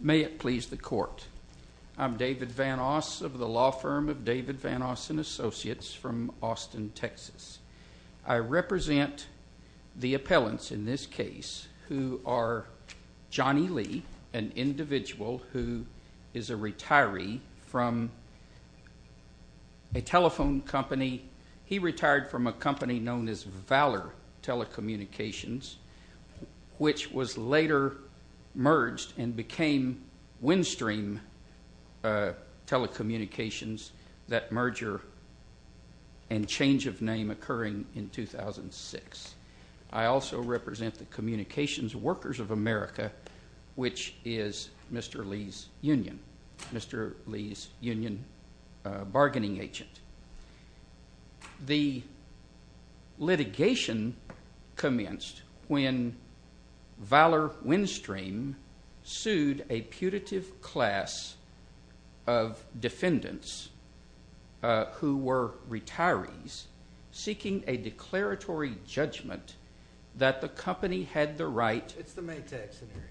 May it please the court. I'm David Vanoss of the law firm of David Vanoss and Associates from Austin, Texas. I represent the appellants in this case who are Johnny Lee, an individual who is a retiree from a telephone company. He retired from a company known as Valor Telecommunications, which was later merged and became Windstream Telecommunications, that merger and change of name occurring in 2006. I also represent the communications workers of America, which is Mr. Lee's union, Mr. Lee's union bargaining agent. The litigation commenced when Valor Windstream sued a putative class of defendants who were retirees seeking a declaratory judgment that the company had the right. It's the Maytag scenario.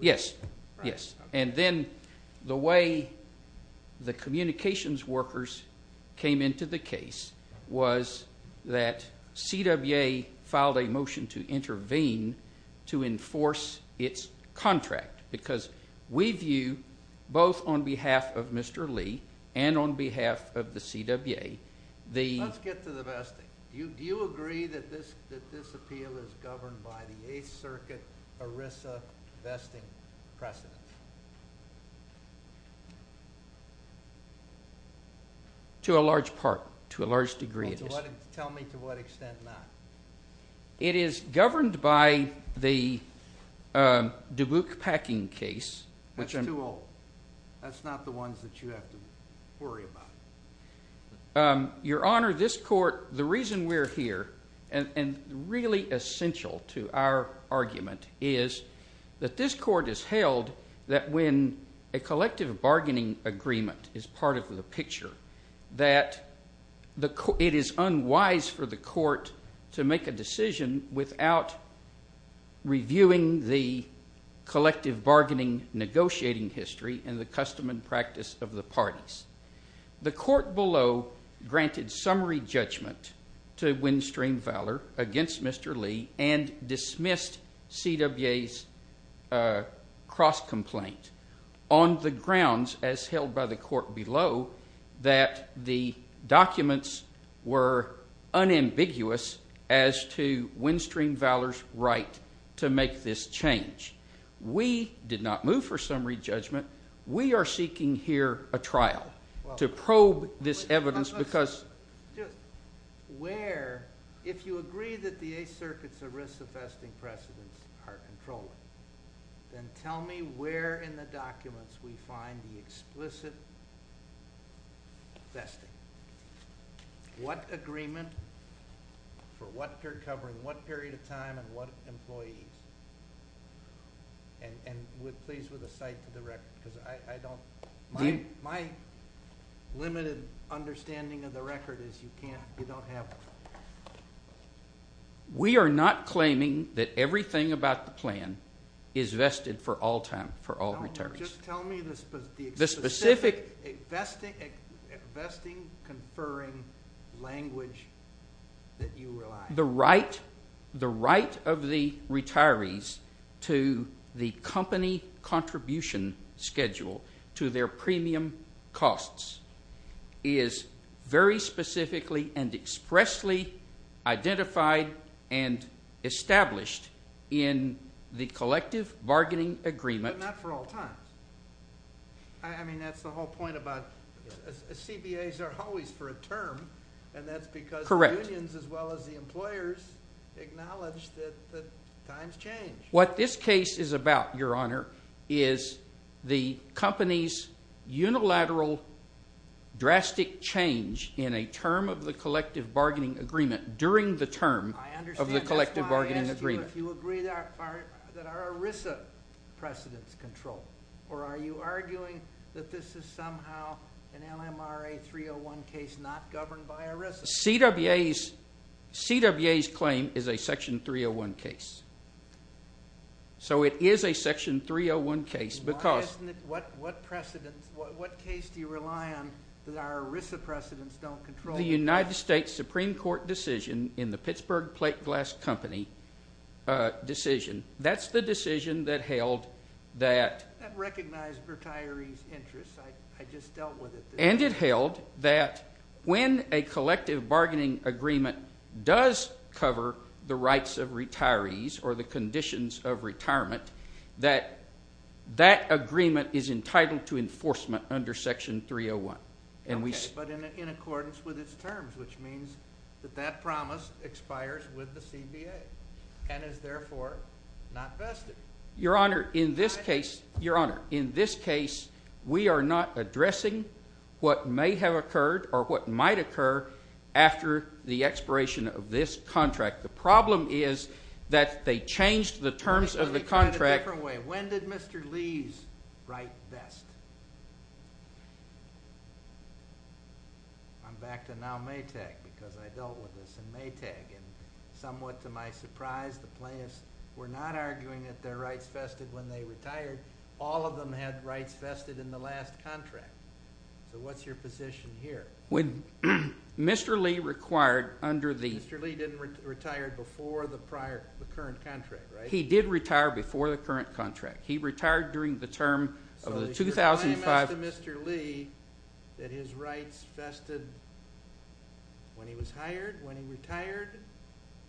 Yes, yes. And then the way the communications workers came into the case was that CWA filed a motion to intervene to enforce its contract because we view both on behalf of Mr. Lee and on behalf of the CWA. Let's get to the vesting. Do you agree that this appeal is governed by the Eighth Circuit ERISA vesting precedent? To a large part. To a large degree, it is. Tell me to what extent not. It is governed by the Dubuque-Packing case. That's too old. That's not the ones that you have to worry about. Your Honor, this court, the reason we're here and really essential to our argument is that this court has held that when a collective bargaining agreement is part of the picture, that it is unwise for the court to make a decision without reviewing the collective bargaining negotiating history and the custom and practice of the parties. The court below granted summary judgment to Windstream Valor against Mr. Lee and dismissed CWA's cross-complaint on the grounds, as held by the court below, that the documents were unambiguous as to Windstream Valor's right to make this change. We did not move for summary judgment. We are seeking here a trial to probe this evidence because... Where, if you agree that the Eighth Circuit's ERISA vesting precedents are controlled, then tell me where in the documents we find the explicit vesting. What agreement for what period of time and what employees? And please, with a sight to the record, because I don't... My limited understanding of the record is you can't... You don't have... We are not claiming that everything about the plan is vested for all time, for all returns. Just tell me the specific vesting, conferring language that you rely on. The right of the retirees to the company contribution schedule to their premium costs is very specifically and expressly identified and established in the collective bargaining agreement... But not for all times. I mean, that's the whole point about... CBAs are always for a term, and that's because the unions as well as the employers acknowledge that times change. What this case is about, Your Honor, is the company's unilateral drastic change in a term of the collective bargaining agreement during the term of the collective bargaining agreement. I understand. That's why I asked you if you agree that our ERISA precedents control, or are you arguing that this is somehow an LMRA 301 case not governed by ERISA? CWA's claim is a Section 301 case. It is a Section 301 case because... Why isn't it? What precedents, what case do you rely on that our ERISA precedents don't control? The United States Supreme Court decision in the Pittsburgh Plate Glass Company decision. That's the decision that held that... That recognized retirees' interests. I just dealt with it. And it held that when a collective bargaining agreement does cover the rights of retirees or the conditions of retirement, that that agreement is entitled to enforcement under Section 301. Okay, but in accordance with its terms, which means that that promise expires with the CBA and is therefore not vested. Your Honor, in this case, we are not addressing what may have occurred or what might occur after the expiration of this contract. The problem is that they changed the terms of the contract... Let me try it a different way. When did Mr. Lee's write best? I'm back to now Maytag because I dealt with this in Maytag. Somewhat to my surprise, the plaintiffs were not arguing that their rights vested when they retired. All of them had rights vested in the last contract. So what's your position here? When Mr. Lee required under the... Mr. Lee didn't retire before the current contract, right? He did retire before the current contract. He retired during the term of the 2005...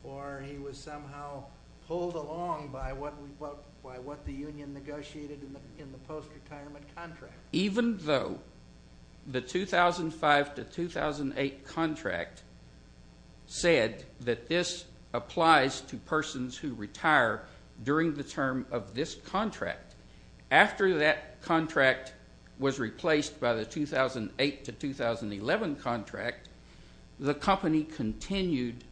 Or he was somehow pulled along by what the union negotiated in the post-retirement contract. Even though the 2005 to 2008 contract said that this applies to persons who retire during the term of this contract, after that contract was replaced by the 2008 to 2011 contract, the company continued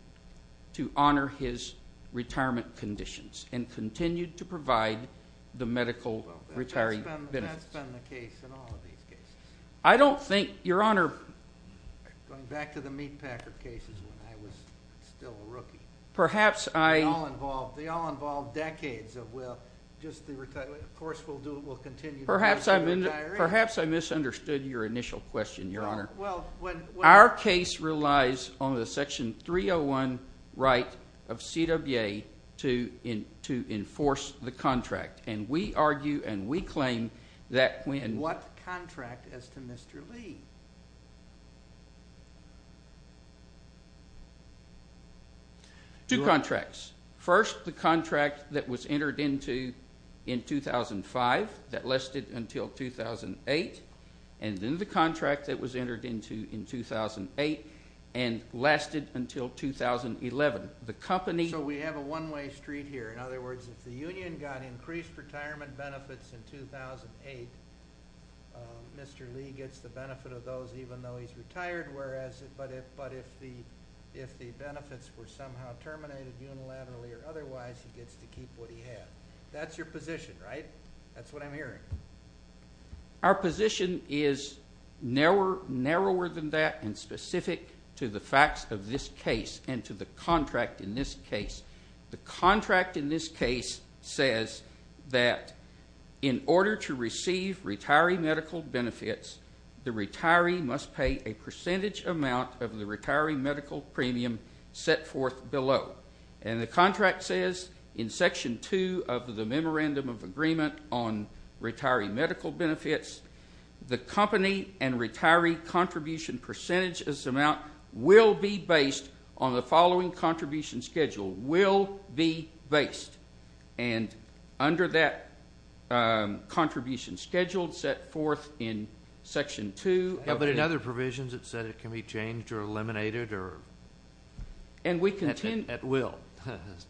to honor his retirement conditions and continued to provide the medical retiree benefits. Well, that's been the case in all of these cases. I don't think, Your Honor... Going back to the Meatpacker cases when I was still a rookie. Perhaps I... They all involved decades of, well, just the retirement... Of course, we'll continue... Perhaps I misunderstood your initial question, Your Honor. Our case relies on the Section 301 right of CWA to enforce the contract. We argue and we claim that when... What contract as to Mr. Lee? Two contracts. First, the contract that was entered into in 2005 that lasted until 2008. And then the contract that was entered into in 2008 and lasted until 2011. The company... So we have a one-way street here. In other words, if the union got increased retirement benefits in 2008, Mr. Lee gets the benefit of those even though he's retired. But if the benefits were somehow terminated unilaterally or otherwise, he gets to keep what he had. That's your position, right? That's what I'm hearing. Our position is narrower than that and specific to the facts of this case and to the contract in this case. The contract in this case says that in order to receive retiree medical benefits, the retiree must pay a percentage amount of the retiree medical premium set forth below. And the contract says in Section 2 of the Memorandum of Agreement on Retiree Medical Benefits, the company and retiree contribution percentage of this amount will be based on the following contribution schedule. Will be based. And under that contribution schedule set forth in Section 2... But in other provisions it said it can be changed or eliminated or... At will,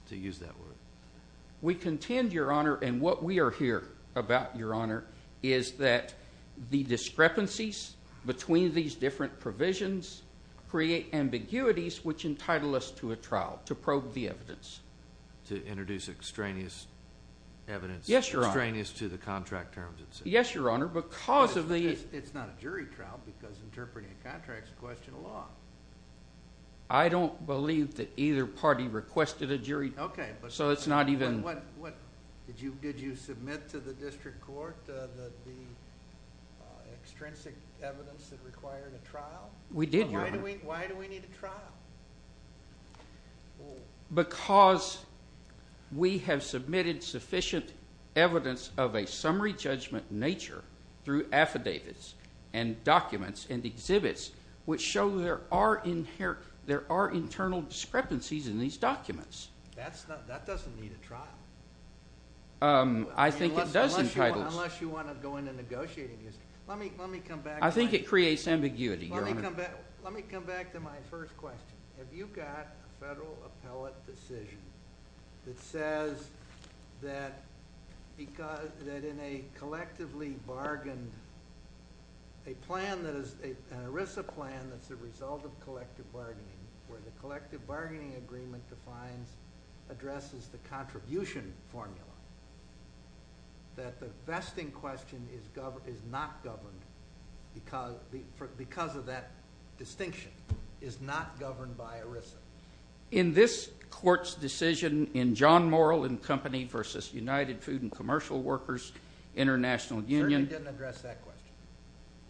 to use that word. We contend, Your Honor, and what we are here about, Your Honor, is that the discrepancies between these different provisions create ambiguities which entitle us to a trial to probe the evidence. To introduce extraneous evidence... Yes, Your Honor. Extraneous to the contract terms. Yes, Your Honor. Because of the... It's not a jury trial because interpreting a contract is a question of law. I don't believe that either party requested a jury... Okay. So it's not even... Did you submit to the district court the extrinsic evidence that required a trial? We did, Your Honor. Why do we need a trial? Because we have submitted sufficient evidence of a summary judgment nature through affidavits and documents and exhibits which show there are internal discrepancies in these documents. That doesn't need a trial. I think it does entitle... Unless you want to go into negotiating these. Let me come back... I think it creates ambiguity, Your Honor. Let me come back to my first question. Have you got a federal appellate decision that says that in a collectively bargained... An ERISA plan that's a result of collective bargaining where the collective bargaining agreement defines, addresses the contribution formula, that the vesting question is not governed because of that distinction, is not governed by ERISA? In this court's decision in John Morrill and Company v. United Food and Commercial Workers International Union... The jury didn't address that question.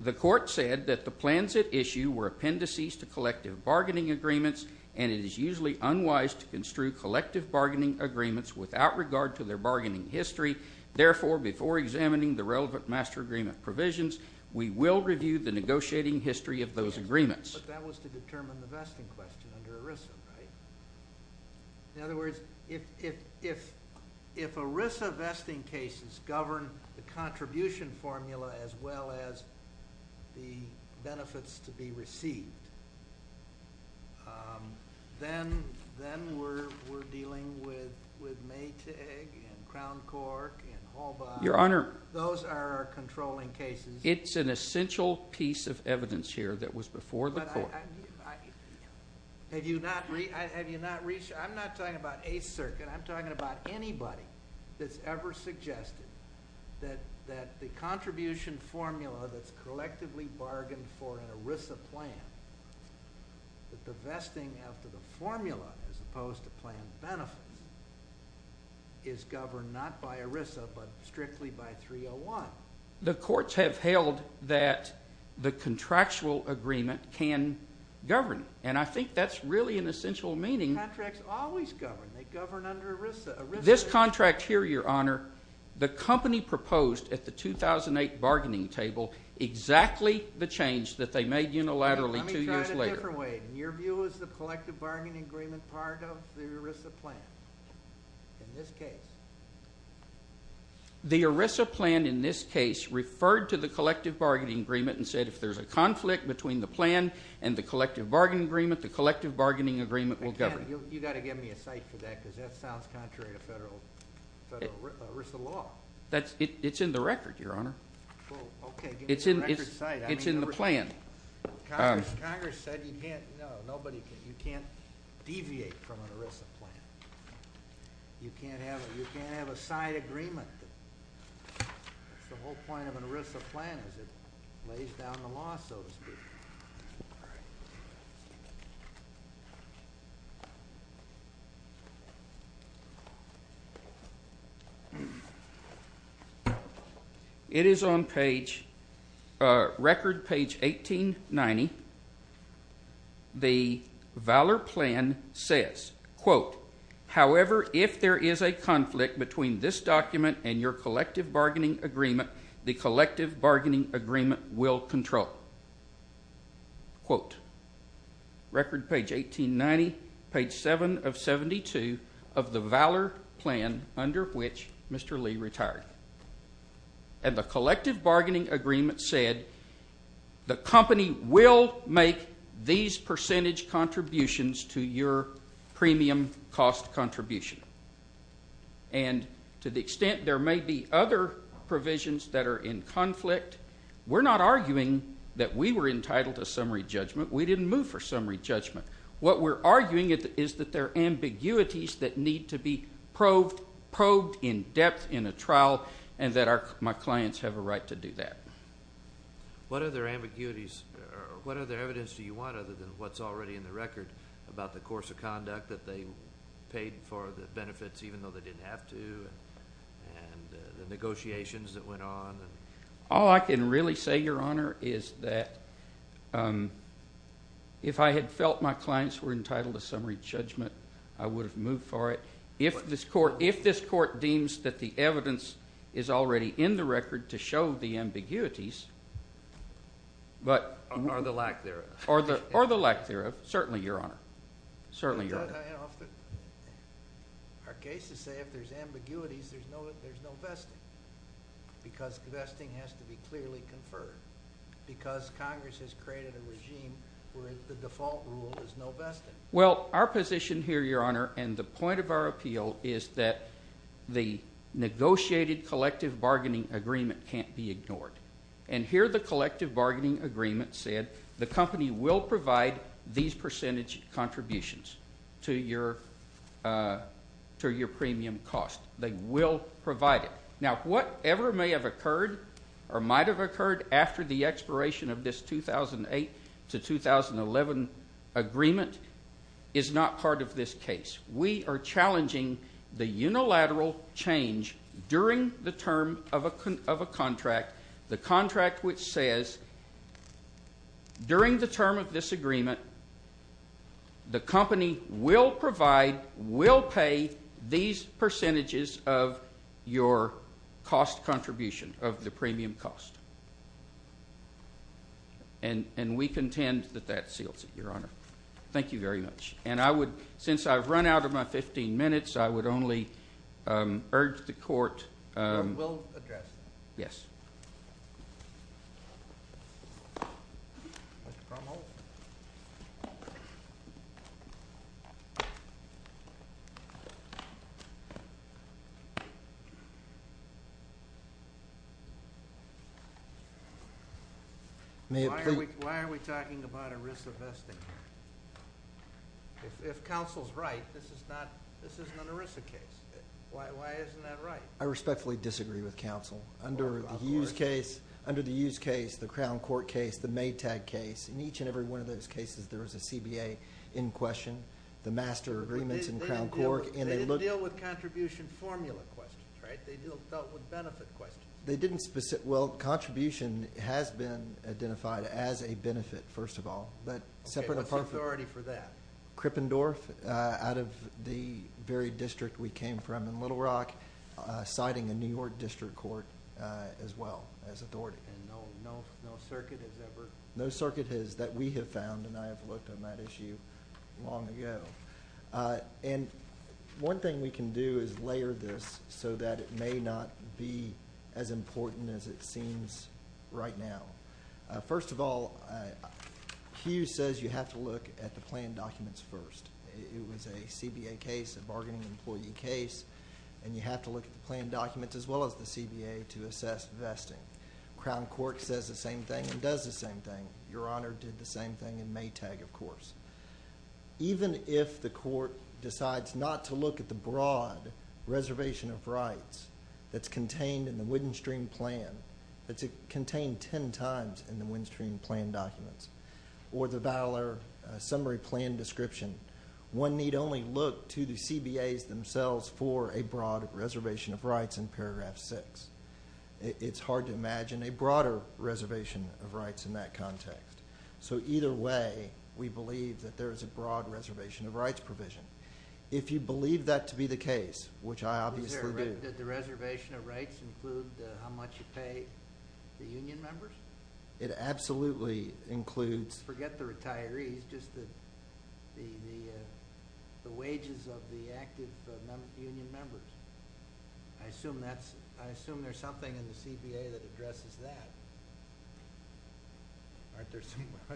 The court said that the plans at issue were appendices to collective bargaining agreements and it is usually unwise to construe collective bargaining agreements without regard to their We will review the negotiating history of those agreements. But that was to determine the vesting question under ERISA, right? In other words, if ERISA vesting cases govern the contribution formula as well as the benefits to be received, then we're dealing with Maytag and Crown Cork and Halbach. Your Honor... Those are our controlling cases. It's an essential piece of evidence here that was before the court. Have you not reached... I'm not talking about a circuit. I'm talking about anybody that's ever suggested that the contribution formula that's collectively bargained for in an ERISA plan, that the vesting after the formula as opposed to plan benefits is governed not by ERISA but strictly by 301. The courts have held that the contractual agreement can govern. And I think that's really an essential meaning. Contracts always govern. They govern under ERISA. This contract here, Your Honor, the company proposed at the 2008 bargaining table exactly the change that they made unilaterally two years later. Let me try it a different way. In your view, is the collective bargaining agreement part of the ERISA plan in this case? The ERISA plan in this case referred to the collective bargaining agreement and said if there's a conflict between the plan and the collective bargaining agreement, the collective bargaining agreement will govern. You've got to give me a cite for that because that sounds contrary to federal ERISA law. It's in the record, Your Honor. Okay, give me the record cite. It's in the plan. Congress said you can't deviate from an ERISA plan. You can't have a cite agreement. That's the whole point of an ERISA plan is it lays down the law, so to speak. All right. It is on page, record page 1890. The Valor plan says, quote, however, if there is a conflict between this document and your collective bargaining agreement, the collective bargaining agreement will control. Quote, record page 1890, page 7 of 72 of the Valor plan under which Mr. Lee retired. And the collective bargaining agreement said the company will make these percentage contributions to your premium cost contribution. And to the extent there may be other provisions that are in conflict, we're not arguing that we were entitled to summary judgment. We didn't move for summary judgment. What we're arguing is that there are ambiguities that need to be probed in depth in a trial and that my clients have a right to do that. What other ambiguities, what other evidence do you want other than what's already in the record about the course of conduct that they paid for the benefits even though they didn't have to and the negotiations that went on? All I can really say, Your Honor, is that if I had felt my clients were entitled to summary judgment, I would have moved for it. If this court deems that the evidence is already in the record to show the ambiguities, Or the lack thereof. Or the lack thereof, certainly, Your Honor. Certainly, Your Honor. Our cases say if there's ambiguities, there's no vesting. Because vesting has to be clearly conferred. Because Congress has created a regime where the default rule is no vesting. Well, our position here, Your Honor, and the point of our appeal is that the negotiated collective bargaining agreement can't be ignored. And here the collective bargaining agreement said the company will provide these percentage contributions to your premium cost. They will provide it. Now, whatever may have occurred or might have occurred after the expiration of this 2008 to 2011 agreement is not part of this case. We are challenging the unilateral change during the term of a contract. The contract which says during the term of this agreement, the company will provide, will pay these percentages of your cost contribution of the premium cost. And we contend that that seals it, Your Honor. Thank you very much. And I would, since I've run out of my 15 minutes, I would only urge the court. We'll address that. Yes. Mr. Krumholz? Why are we talking about ERISA vesting? If counsel's right, this is not, this isn't an ERISA case. Why isn't that right? I respectfully disagree with counsel. Under the Hughes case, the Crown Court case, the Maytag case, in each and every one of those cases there was a CBA in question, the master agreements in Crown Court. They didn't deal with contribution formula questions, right? They dealt with benefit questions. They didn't, well, contribution has been identified as a benefit, first of all. Okay, what's the authority for that? Krippendorf, out of the very district we came from in Little Rock, citing a New York district court as well as authority. And no circuit has ever? No circuit that we have found, and I have looked on that issue long ago. And one thing we can do is layer this so that it may not be as important as it seems right now. First of all, Hughes says you have to look at the plan documents first. It was a CBA case, a bargaining employee case, and you have to look at the plan documents as well as the CBA to assess vesting. Crown Court says the same thing and does the same thing. Your Honor did the same thing in Maytag, of course. Even if the court decides not to look at the broad reservation of rights that's contained in the Windstream plan, that's contained ten times in the Windstream plan documents, or the Valor summary plan description, one need only look to the CBAs themselves for a broad reservation of rights in paragraph 6. It's hard to imagine a broader reservation of rights in that context. So either way, we believe that there is a broad reservation of rights provision. If you believe that to be the case, which I obviously do... Is there a way that the reservation of rights include how much you pay the union members? It absolutely includes... Forget the retirees, just the wages of the active union members. I assume there's something in the CBA that addresses that.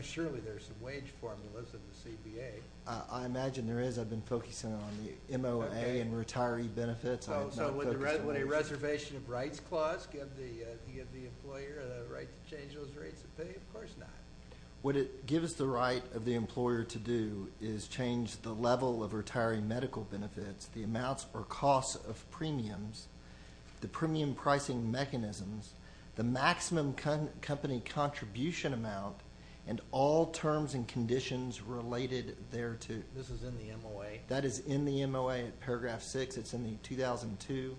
Surely there's some wage formulas in the CBA. I imagine there is. I've been focusing on the MOA and retiree benefits. So would a reservation of rights clause give the employer the right to change those rates of pay? Of course not. What it gives the right of the employer to do is change the level of retiree medical benefits, the amounts or costs of premiums, the premium pricing mechanisms, the maximum company contribution amount, and all terms and conditions related thereto. This is in the MOA? Paragraph 6, it's in the 2002,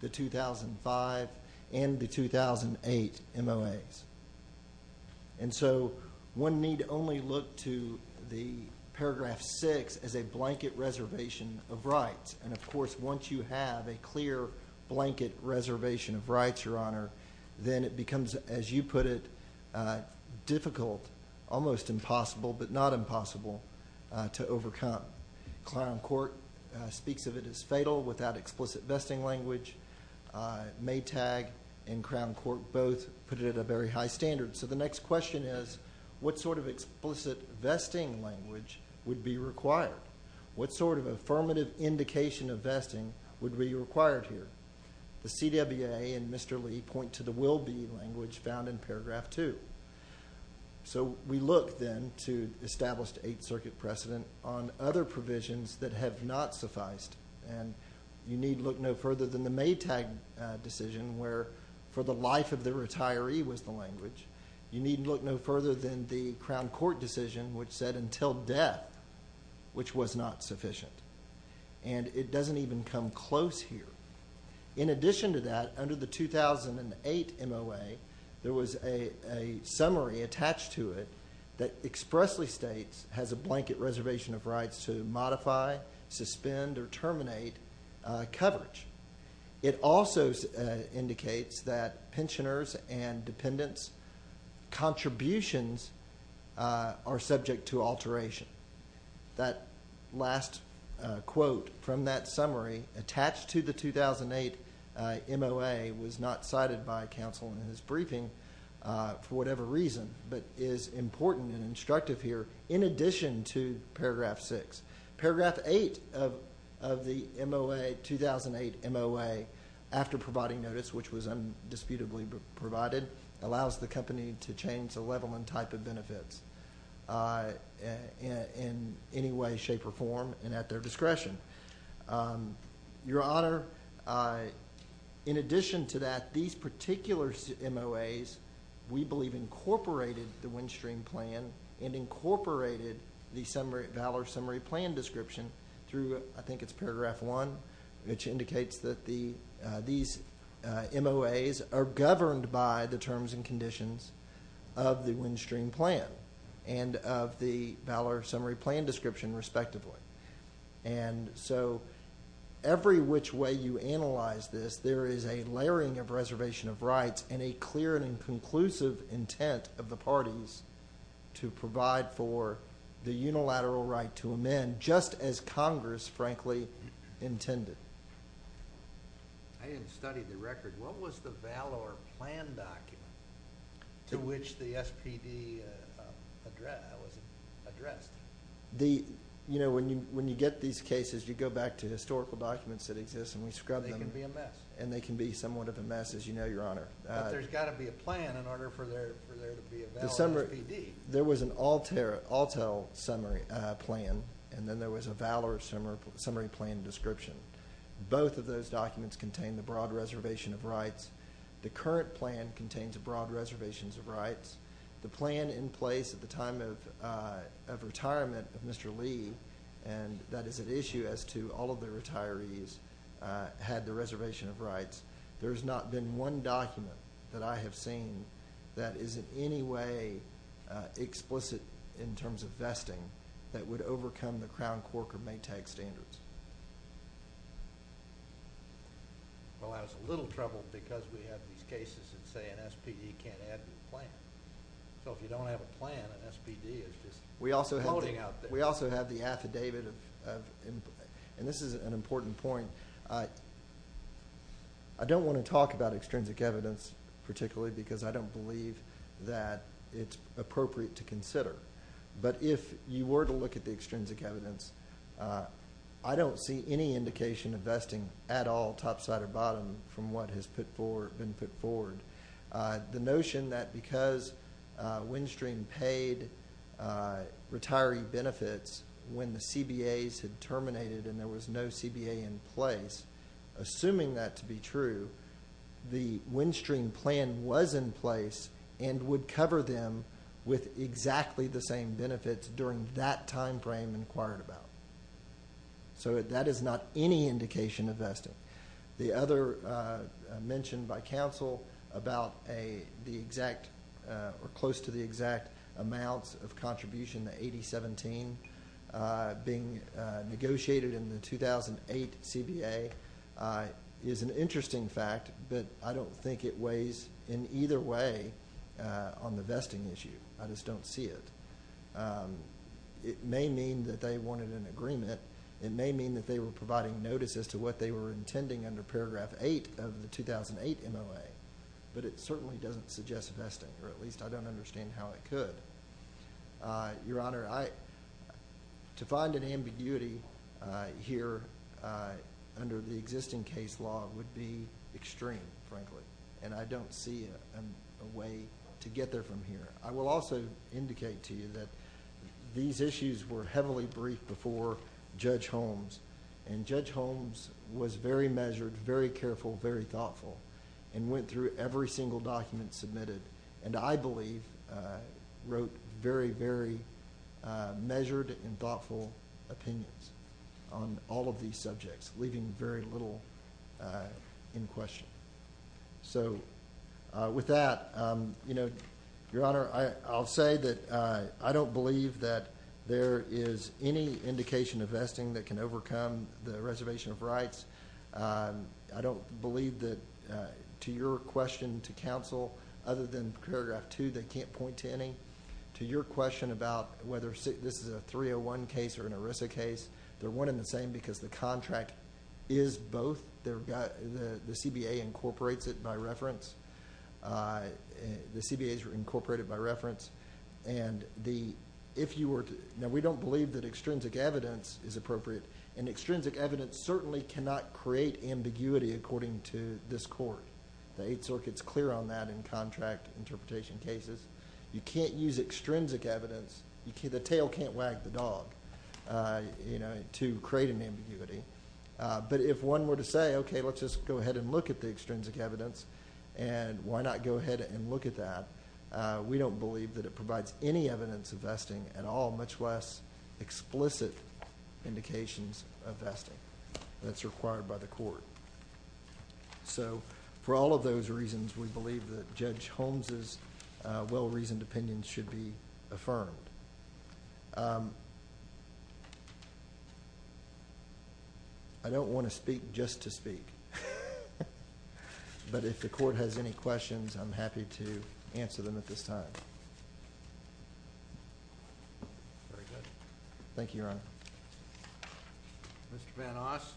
the 2005, and the 2008 MOAs. And so one need only look to the paragraph 6 as a blanket reservation of rights. And of course, once you have a clear blanket reservation of rights, Your Honor, then it becomes, as you put it, difficult, almost impossible, but not impossible to overcome. Crown Court speaks of it as fatal without explicit vesting language. Maytag and Crown Court both put it at a very high standard. So the next question is, what sort of explicit vesting language would be required? What sort of affirmative indication of vesting would be required here? The CWA and Mr. Lee point to the will-be language found in paragraph 2. So we look then to established Eighth Circuit precedent on other provisions that have not sufficed. And you need look no further than the Maytag decision where for the life of the retiree was the language. You need look no further than the Crown Court decision which said until death, which was not sufficient. And it doesn't even come close here. In addition to that, under the 2008 MOA, there was a summary attached to it that expressly states has a blanket reservation of rights to modify, suspend, or terminate coverage. It also indicates that pensioners' and dependents' contributions are subject to alteration. That last quote from that summary attached to the 2008 MOA was not cited by counsel in his briefing for whatever reason, but is important and instructive here in addition to paragraph 6. Paragraph 8 of the 2008 MOA, after providing notice, which was undisputably provided, allows the company to change the level and type of benefits in any way, shape, or form and at their discretion. Your Honor, in addition to that, these particular MOAs, we believe incorporated the Windstream Plan and incorporated the Valor Summary Plan description through, I think it's paragraph 1, which indicates that these MOAs are governed by the terms and conditions of the Windstream Plan and of the Valor Summary Plan description, respectively. Every which way you analyze this, there is a layering of reservation of rights and a clear and conclusive intent of the parties to provide for the unilateral right to amend, just as Congress, frankly, intended. I didn't study the record. What was the Valor Plan document to which the SPD was addressed? You know, when you get these cases, you go back to historical documents that exist and we scrub them. They can be a mess. And they can be somewhat of a mess, as you know, Your Honor. But there's got to be a plan in order for there to be a Valor SPD. There was an Altel summary plan and then there was a Valor Summary Plan description. Both of those documents contain the broad reservation of rights. The current plan contains a broad reservation of rights. The plan in place at the time of retirement of Mr. Lee, and that is an issue as to all of the retirees, had the reservation of rights. There has not been one document that I have seen that is in any way explicit in terms of vesting that would overcome the Crown, Quark, or Maytag standards. Well, I was a little troubled because we have these cases that say an SPD can't add to the plan. So if you don't have a plan, an SPD is just floating out there. We also have the affidavit of, and this is an important point, I don't want to talk about extrinsic evidence particularly because I don't believe that it's appropriate to consider. But if you were to look at the extrinsic evidence, I don't see any indication of vesting at all, top, side, or bottom, from what has been put forward. The notion that because Windstream paid retiree benefits when the CBAs had terminated and there was no CBA in place, assuming that to be true, the Windstream plan was in place and would cover them with exactly the same benefits during that time frame inquired about. So that is not any indication of vesting. The other mentioned by Council about the exact, or close to the exact amounts of contribution, the 80-17, being negotiated in the 2008 CBA, is an interesting fact, but I don't think it weighs in either way on the vesting issue. I just don't see it. It may mean that they wanted an agreement. It may mean that they were providing notice as to what they were intending under paragraph 8 of the 2008 MOA, but it certainly doesn't suggest vesting, or at least I don't understand how it could. Your Honor, to find an ambiguity here under the existing case law would be extreme, frankly, and I don't see a way to get there from here. I will also indicate to you that these issues were heavily briefed before Judge Holmes, and Judge Holmes was very measured, very careful, very thoughtful, and went through every single document submitted, and I believe wrote very, very measured and thoughtful opinions on all of these subjects, leaving very little in question. So with that, Your Honor, I'll say that I don't believe that there is any indication of vesting that can overcome the reservation of rights. I don't believe that, to your question to counsel, other than paragraph 2, they can't point to any. To your question about whether this is a 301 case or an ERISA case, they're one and the same because the contract is both. The CBA incorporates it by reference. The CBAs are incorporated by reference, and we don't believe that extrinsic evidence is appropriate, and extrinsic evidence certainly cannot create ambiguity according to this Court. The Eighth Circuit's clear on that in contract interpretation cases. You can't use extrinsic evidence. The tail can't wag the dog to create an ambiguity. But if one were to say, okay, let's just go ahead and look at the extrinsic evidence, and why not go ahead and look at that, we don't believe that it provides any evidence of vesting at all, much less explicit indications of vesting that's required by the Court. For all of those reasons, we believe that Judge Holmes' well-reasoned opinion should be affirmed. I don't want to speak just to speak, but if the Court has any questions, I'm happy to answer them at this time. Thank you, Your Honor. Mr. Van Oss,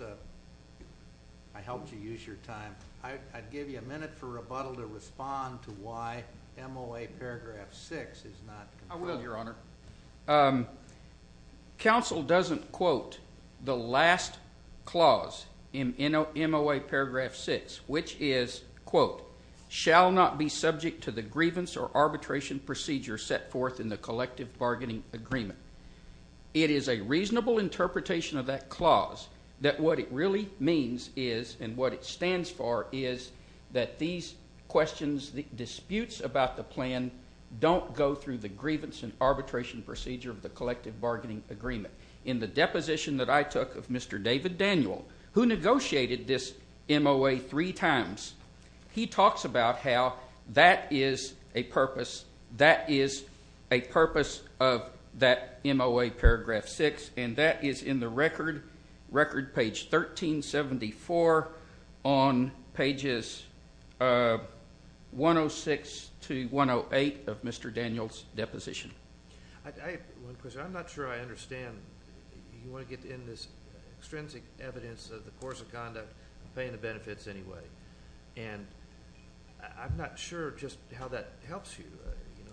I helped you use your time. I'd give you a minute for rebuttal to respond to why MOA paragraph 6 is not... I will, Your Honor. Counsel doesn't quote the last clause in MOA paragraph 6, which is, quote, shall not be subject to the grievance or arbitration procedure set forth in the collective bargaining agreement. It is a reasonable interpretation of that clause that what it really means is, and what it stands for, is that these questions, disputes about the plan don't go through the grievance and arbitration procedure of the collective bargaining agreement. In the deposition that I took of Mr. David Daniel, who negotiated this MOA three times, he talks about how that is a purpose... that is a purpose of that MOA paragraph 6, and that is in the record, page 1374, on pages 106 to 108, of Mr. Daniel's deposition. I have one question. I'm not sure I understand. You want to get in this extrinsic evidence of the course of conduct, paying the benefits anyway, and I'm not sure just how that helps you.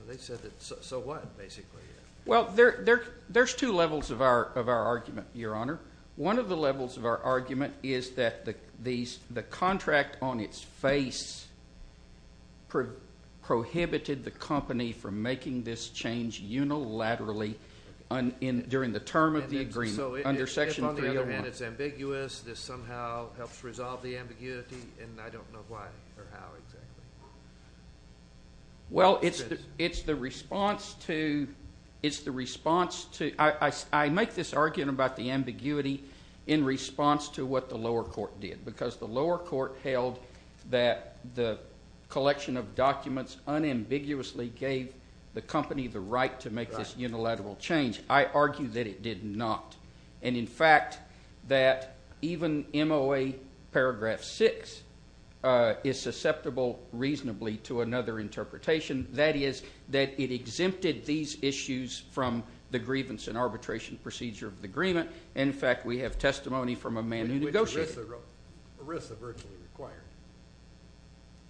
They said that, so what, basically? Well, there's two levels of our argument, Your Honor. One of the levels of our argument is that the contract on its face prohibited the company from making this change unilaterally during the term of the agreement, under Section 301. So if, on the other hand, it's ambiguous, this somehow helps resolve the ambiguity, and I don't know why or how exactly. Well, it's the response to... It's the response to... I make this argument about the ambiguity in response to what the lower court did, because the lower court held that the collection of documents unambiguously gave the company the right to make this unilateral change. I argue that it did not. And, in fact, that even MOA Paragraph 6 is susceptible reasonably to another interpretation. That is that it exempted these issues from the grievance and arbitration procedure of the agreement. And, in fact, we have testimony from a man who negotiated... ERISA virtually required.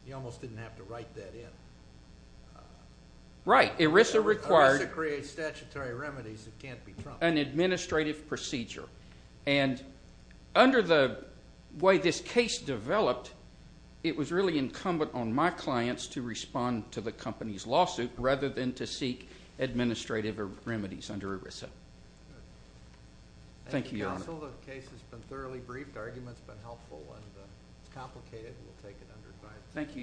You almost didn't have to write that in. Right. ERISA required... ERISA creates statutory remedies that can't be trumped. ...an administrative procedure. And under the way this case developed, it was really incumbent on my clients to respond to the company's lawsuit Thank you, Your Honor. The case has been thoroughly briefed. The argument's been helpful. It's complicated. We'll take it under advice. Thank you, Your Honors.